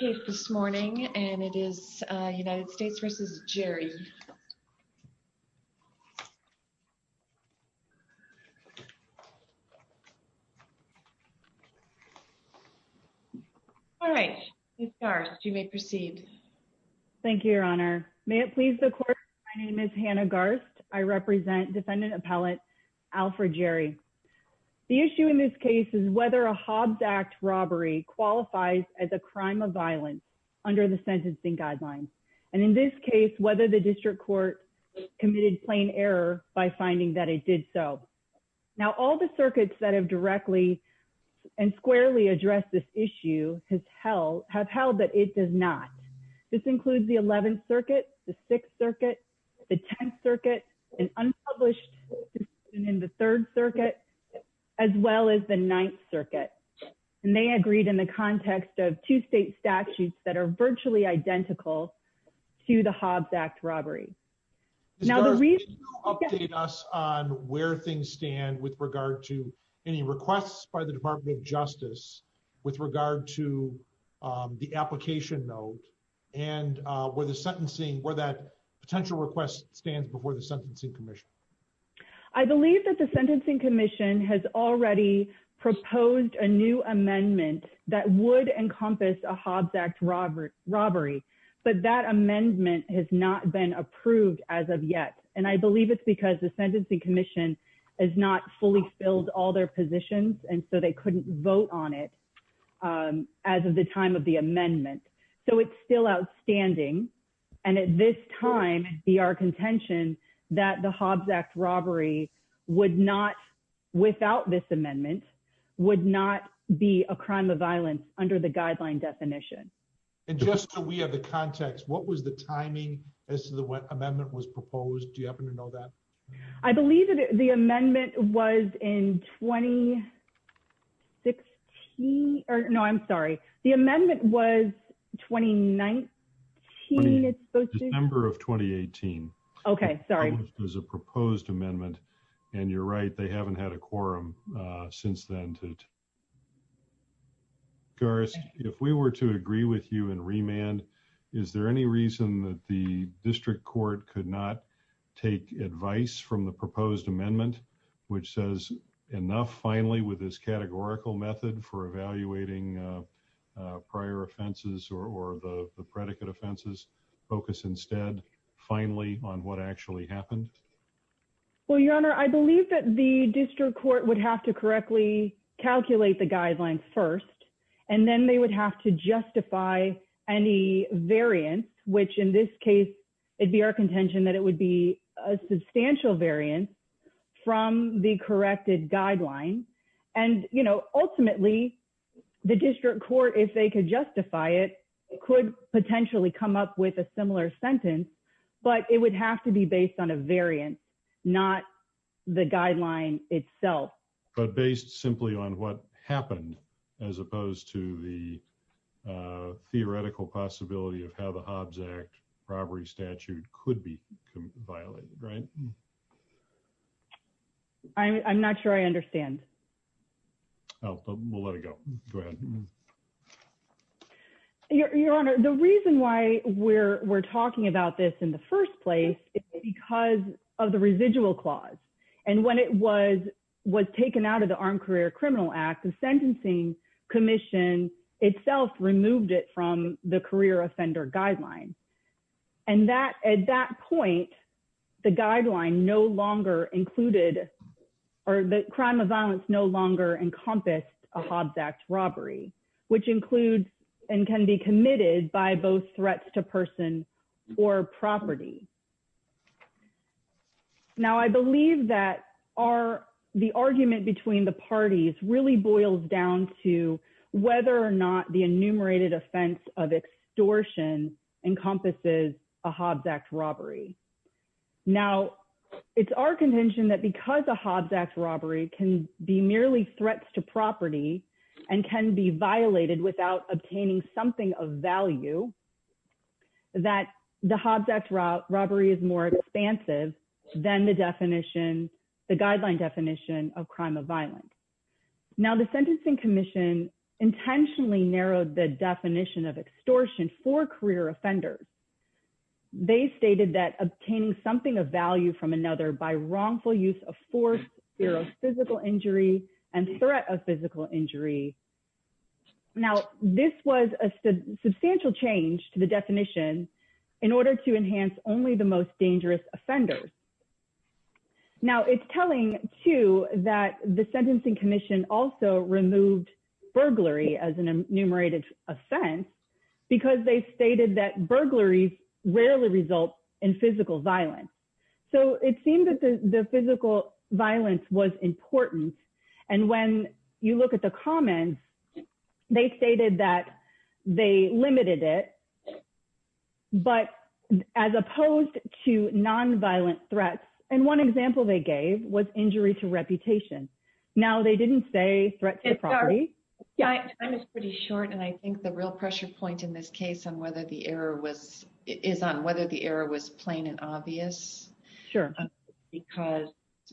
All right, Ms. Garst, you may proceed. Thank you, Your Honor. May it please the Court, my name is Hannah Garst. I represent Defendant Appellate Alfred Jerry. The issue in this case is whether a Hobbs Act robbery qualifies as a crime of violence under the sentencing guidelines, and in this case, whether the District Court committed plain error by finding that it did so. Now all the circuits that have directly and squarely addressed this issue have held that it does not. This includes the Eleventh Circuit, the Sixth Circuit, the Tenth Circuit, an unpublished the Third Circuit, as well as the Ninth Circuit, and they agreed in the context of two state statutes that are virtually identical to the Hobbs Act robbery. Ms. Garst, can you update us on where things stand with regard to any requests by the Department of Justice with regard to the application note and where the sentencing, where that I believe that the Sentencing Commission has already proposed a new amendment that would encompass a Hobbs Act robbery, but that amendment has not been approved as of yet, and I believe it's because the Sentencing Commission has not fully filled all their positions, and so they couldn't vote on it as of the time of the amendment, so it's still outstanding, and at this time, be our contention that the Hobbs Act robbery would not, without this amendment, would not be a crime of violence under the guideline definition. And just so we have the context, what was the timing as to when the amendment was proposed? Do you happen to know that? I believe that the amendment was in 2016, or no, I'm sorry. The amendment was 2019, it's supposed to be? December of 2018. Okay, sorry. It was a proposed amendment, and you're right, they haven't had a quorum since then. Garst, if we were to agree with you in remand, is there any reason that the district court could not take advice from the proposed amendment, which says, enough, finally, with this categorical method for evaluating prior offenses or the predicate offenses, focus instead, finally, on what actually happened? Well, Your Honor, I believe that the district court would have to correctly calculate the guideline first, and then they would have to justify any variance, which in this case, it'd be our contention that it would be a substantial variance from the corrected guideline, and ultimately, the district court, if they could justify it, could potentially come up with a similar sentence, but it would have to be based on a variance, not the guideline itself. But based simply on what happened, as opposed to the theoretical possibility of how the Hobbs Act robbery statute could be violated, right? I'm not sure I understand. Oh, we'll let it go. Go ahead. Your Honor, the reason why we're talking about this in the first place is because of the residual clause, and when it was taken out of the Armed Career Criminal Act, the sentencing commission itself removed it from the career offender guideline, and at that point, the crime of violence no longer encompassed a Hobbs Act robbery, which includes and can be committed by both threats to person or property. Now, I believe that the argument between the parties really boils down to whether or not the enumerated offense of extortion encompasses a Hobbs Act robbery. Now, it's our contention that because a Hobbs Act robbery can be merely threats to property and can be violated without obtaining something of value, that the Hobbs Act robbery is more expansive than the definition, the guideline definition of crime of violence. Now, the sentencing commission intentionally narrowed the definition of extortion for career offenders. They stated that obtaining something of value from another by wrongful use of force, fear of physical injury, and threat of physical injury. Now, this was a substantial change to the definition in order to enhance only the most dangerous offenders. Now, it's telling, too, that the sentencing commission also removed burglary as an enumerated offense because they stated that burglaries rarely result in physical violence. So it seemed that the physical violence was important. And when you look at the comments, they stated that they limited it, but as opposed to nonviolent threats. And one example they gave was injury to reputation. Now, they didn't say threats to property. Yeah, time is pretty short. And I think the real pressure point in this case on whether the error was, is on whether the error was plain and obvious. Sure. Because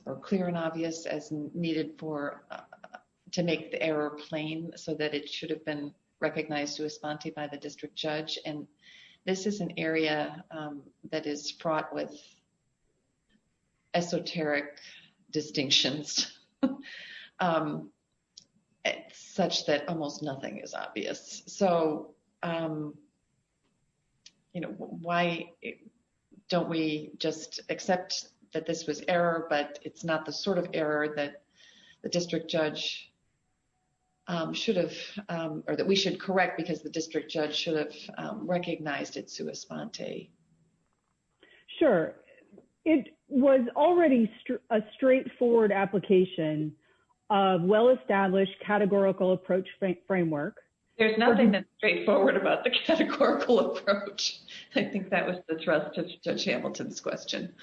or clear and obvious as needed for, to make the error plain so that it should have been recognized to a sponte by the district judge. And this is an area that is fraught with esoteric distinctions such that almost nothing is obvious. So, you know, why don't we just accept that this was error, but it's not the sort of error that the district judge should have, or that we should correct because the district judge should have recognized it to a sponte. Sure. It was already a straightforward application of well-established categorical approach framework. There's nothing that's straightforward about the categorical approach. I think that was the thrust of judge Hamilton's question.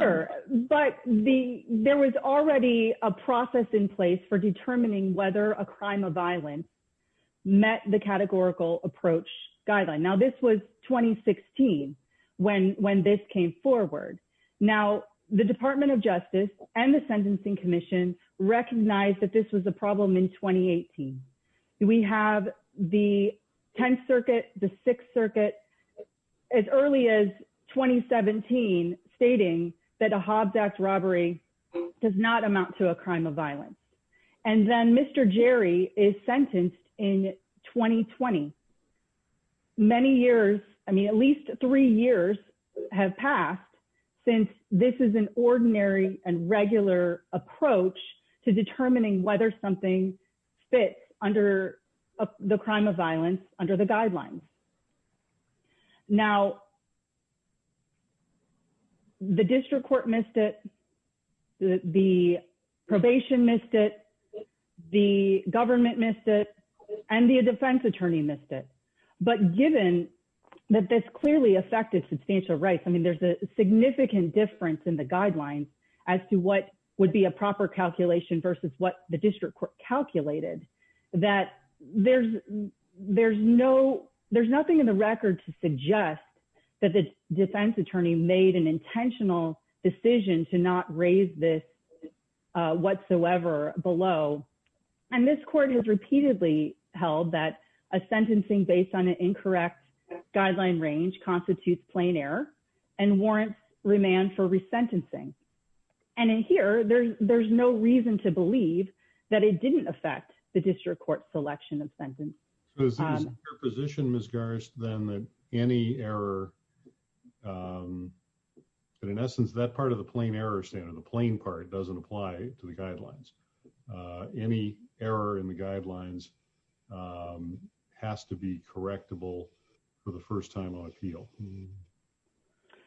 Sure. But the, there was already a process in place for determining whether a crime of violence met the categorical approach guideline. Now this was 2016 when, when this came forward. Now the department of justice and the sentencing commission recognized that this was a problem in 2018. We have the 10th circuit, the sixth circuit as early as 2017 stating that a Hobbs robbery does not amount to a crime of violence. And then Mr. Jerry is sentenced in 2020. Many years, I mean, at least three years have passed since this is an ordinary and regular approach to determining whether something fits under the crime of violence under the guidelines. Now the district court missed it. The probation missed it. The government missed it and the defense attorney missed it. But given that this clearly affected substantial rights, I mean, there's a significant difference in the guidelines as to what would be a proper calculation versus what the district court calculated that there's, there's no, there's nothing in the record to suggest that the defense attorney made an intentional decision to not raise this whatsoever below. And this court has repeatedly held that a sentencing based on an incorrect guideline range constitutes plain error and warrants remand for resentencing. And in here, there's, there's no reason to believe that it didn't affect the district court selection of sentence position. Ms. Garst, then any error, but in essence, that part of the plain error standard, the plain part doesn't apply to the guidelines. Any error in the guidelines has to be correctable for the first time on appeal.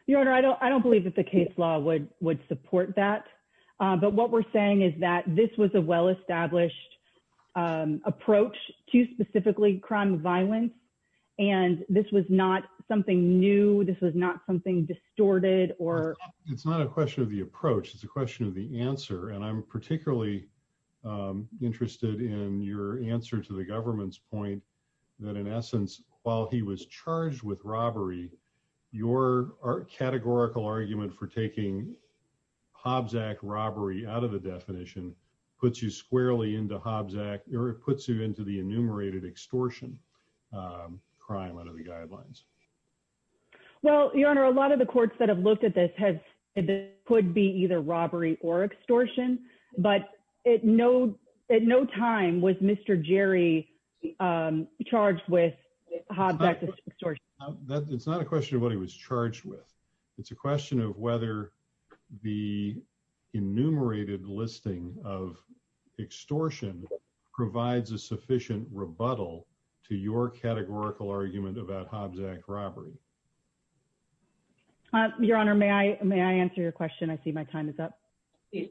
Your Honor, I don't, I don't believe that the case law would, would support that. But what we're saying is that this was a well-established approach to specifically crime of violence. And this was not something new. This was not something distorted or. It's not a question of the approach. It's a question of the answer. And I'm particularly interested in your answer to the government's point that in essence, while he was charged with your art categorical argument for taking Hobbs act robbery out of the definition, puts you squarely into Hobbs act, or it puts you into the enumerated extortion crime under the guidelines. Well, your Honor, a lot of the courts that have looked at this has could be either robbery or extortion, but at no, at no time was Mr. Jerry I'm charged with. It's not a question of what he was charged with. It's a question of whether the enumerated listing of extortion provides a sufficient rebuttal to your categorical argument about Hobbs act robbery. Your Honor, may I, may I answer your question? I see my time is up. Yeah.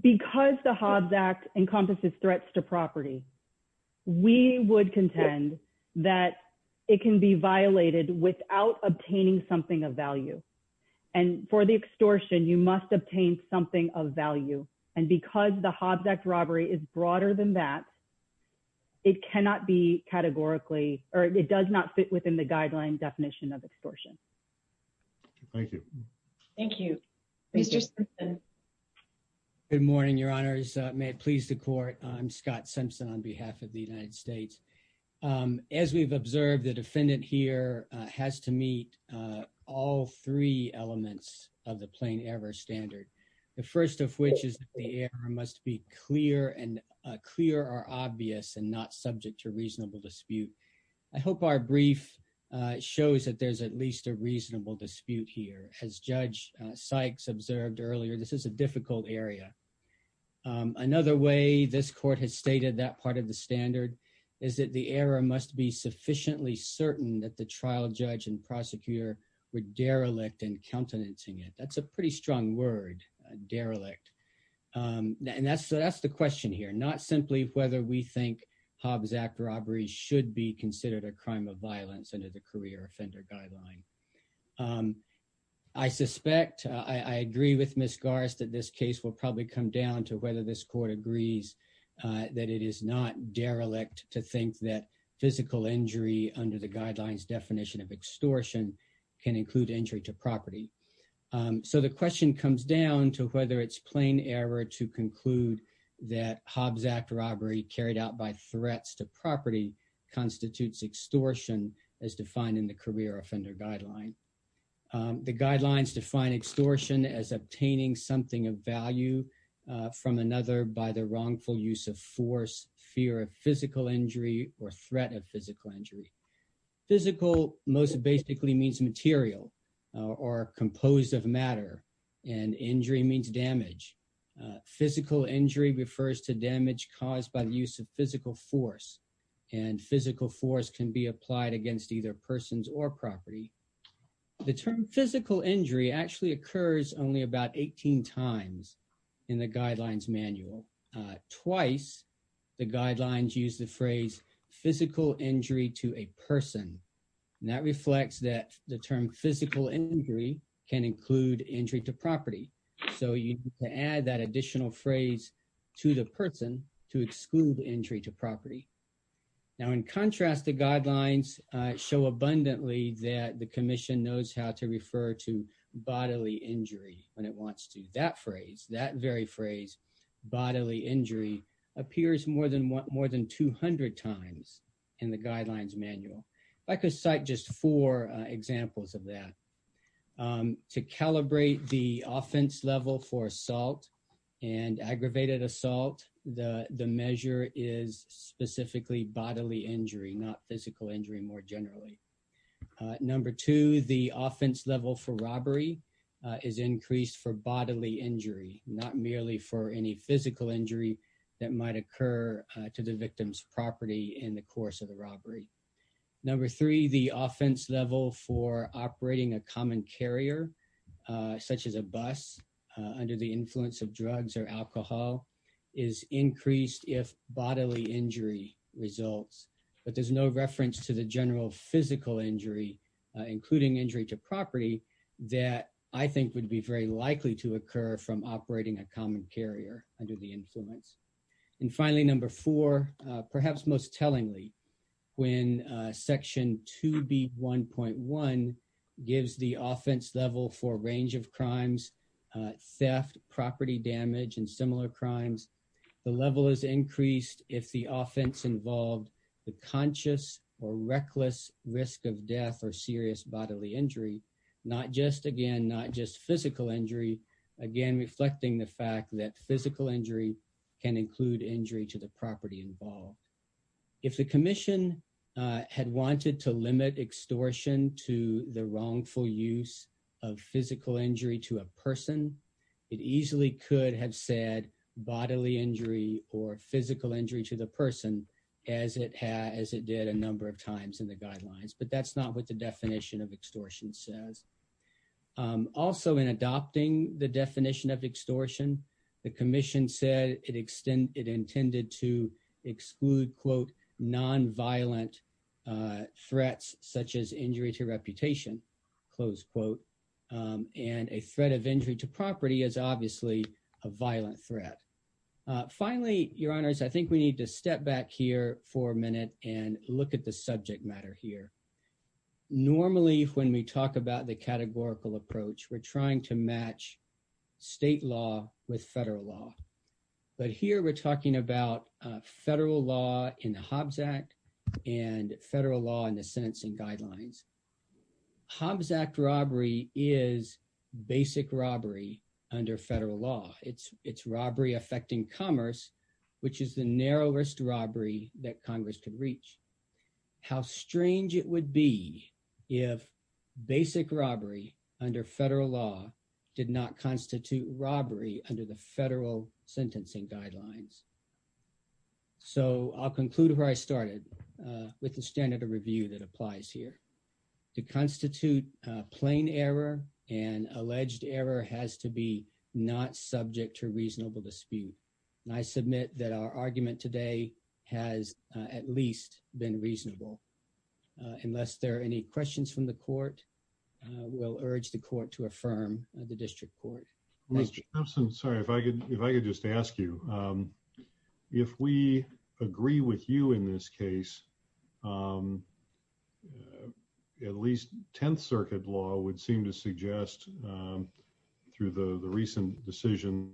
Because the Hobbs act encompasses threats to property. We would contend that it can be violated without obtaining something of value. And for the extortion, you must obtain something of value. And because the Hobbs act robbery is broader than that, it cannot be categorically, or it does not fit within the guideline definition of extortion. Thank you. Thank you. Mr. Good morning, your honors may it please the court. I'm Scott Simpson on behalf of the United States. As we've observed the defendant here has to meet all three elements of the plain error standard. The first of which is the air must be clear and clear or obvious and not subject to reasonable dispute. I hope our brief shows that there's at least a reasonable dispute here has judge Sykes observed earlier. This is a difficult area. Another way this court has stated that part of the standard is that the error must be sufficiently certain that the trial judge and prosecutor were derelict and countenancing it. That's a pretty strong word derelict. And that's, that's the question here, not simply whether we Hobbs act robbery should be considered a crime of violence under the career offender guideline. I suspect I agree with Ms. Garst that this case will probably come down to whether this court agrees that it is not derelict to think that physical injury under the guidelines definition of extortion can include entry to property. So the question comes down to whether it's plain error to conclude that Hobbs act robbery carried out by threats to property constitutes extortion as defined in the career offender guideline. The guidelines define extortion as obtaining something of value from another by the wrongful use of force, fear of physical injury or threat of physical injury. Physical most basically means material or composed of matter and injury means damage. Physical injury refers to damage caused by the use of physical force and physical force can be applied against either persons or property. The term physical injury actually occurs only about 18 times in the guidelines manual. Twice the guidelines use the phrase physical injury to a add that additional phrase to the person to exclude entry to property. Now in contrast the guidelines show abundantly that the commission knows how to refer to bodily injury when it wants to. That phrase, that very phrase bodily injury appears more than 200 times in the guidelines manual. If I could cite just four examples of that to calibrate the offense level for assault and aggravated assault the the measure is specifically bodily injury not physical injury more generally. Number two the offense level for robbery is increased for bodily injury not merely for any physical injury that might occur to the victim's property in the course of robbery. Number three the offense level for operating a common carrier such as a bus under the influence of drugs or alcohol is increased if bodily injury results but there's no reference to the general physical injury including injury to property that I think would be very likely to occur from operating a common carrier under the influence. And finally number four perhaps most tellingly when section 2b 1.1 gives the offense level for range of crimes theft property damage and similar crimes the level is increased if the offense involved the conscious or reckless risk of death or serious bodily injury not just again not just physical injury again reflecting the fact that physical injury can include injury to the property involved. If the commission had wanted to limit extortion to the wrongful use of physical injury to a person it easily could have said bodily injury or physical injury to the person as it has it did a number of times in the guidelines but that's not what the definition of extortion says. Also in adopting the definition of extortion the commission said it extended it intended to exclude quote non-violent threats such as injury to reputation close quote and a threat of injury to property is obviously a violent threat. Finally your honors I think we need to step back here for a minute and look at the subject matter here. Normally when we talk about the categorical approach we're trying to match state law with federal law but here we're talking about federal law in the Hobbs Act and federal law and the sentencing guidelines. Hobbs Act robbery is basic robbery under federal law. It's robbery affecting commerce which is the narrowest robbery that congress could reach. How strange it would be if basic robbery under federal law did not constitute robbery under the federal sentencing guidelines. So I'll conclude where I started with the standard of review that applies here. To constitute plain error and alleged error has to be not subject to reasonable dispute and I from the court will urge the court to affirm the district court. Mr. Simpson sorry if I could if I could just ask you if we agree with you in this case at least 10th circuit law would seem to suggest through the the recent decision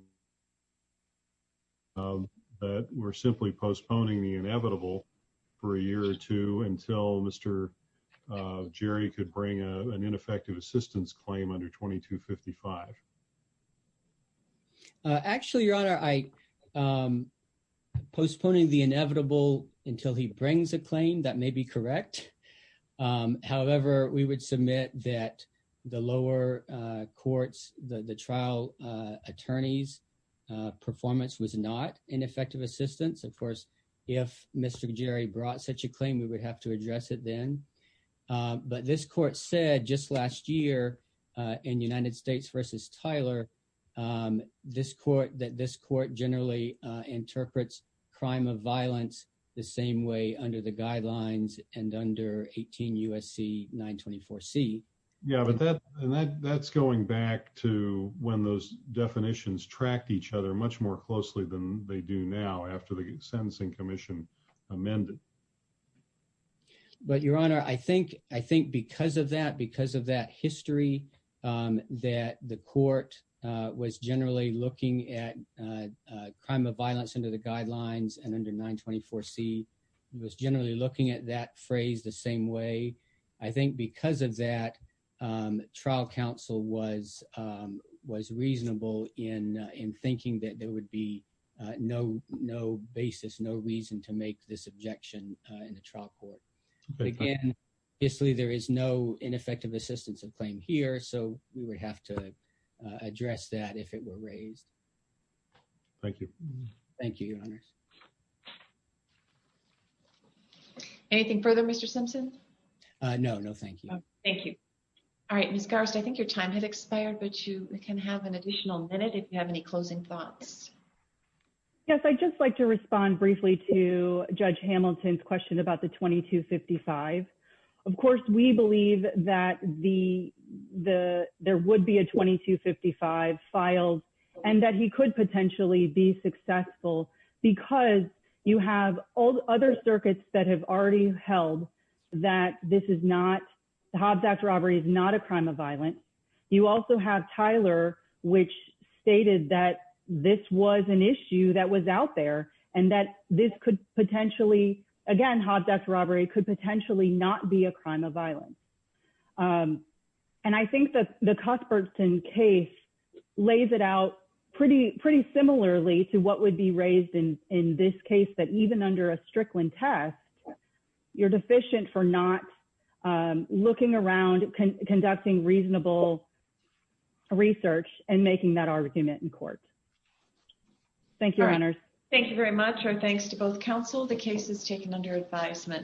that we're simply postponing the inevitable for a year or two until Mr. Jerry could bring an ineffective assistance claim under 2255. Actually your honor I'm postponing the inevitable until he brings a claim that may be correct. However we would submit that the lower courts the the trial attorneys performance was not ineffective assistance of course if Mr. Jerry brought such a claim we would have to address it then. But this court said just last year in United States versus Tyler this court that this court generally interprets crime of violence the same way under the guidelines and under 18 USC 924c. Yeah but that and that that's going back to when those definitions tracked each other much more closely than they do now after the sentencing commission amended. But your honor I think I think because of that because of that history that the court was generally looking at crime of violence under the guidelines and under 924c was generally looking at that phrase the same way. I think because of that trial counsel was was reasonable in in thinking that there would be no no basis no reason to make this objection in the trial court. Again obviously there is no ineffective assistance of claim here so we would have to address that if it were raised. Anything further Mr. Simpson? No no thank you. Thank you. All right Ms. Garst I think your time has expired but you can have an additional minute if you have any closing thoughts. Yes I'd just like to respond briefly to Judge Hamilton's question about the 2255. Of course we believe that the the there would be a 2255 filed and that he could potentially be successful because you have all the other circuits that have already held that this is not Hobbs Act robbery is not a crime of violence. You also have Tyler which stated that this was an issue that was out there and that this could potentially again Hobbs Act robbery could potentially not be a crime of violence. And I think that the Cuthbertson case lays it out pretty pretty similarly to what would be raised in in this case that even under a Strickland test you're deficient for not looking around conducting reasonable research and making that argument in court. Thank you. Thank you very much. Our thanks to both counsel. The case is taken under advisement.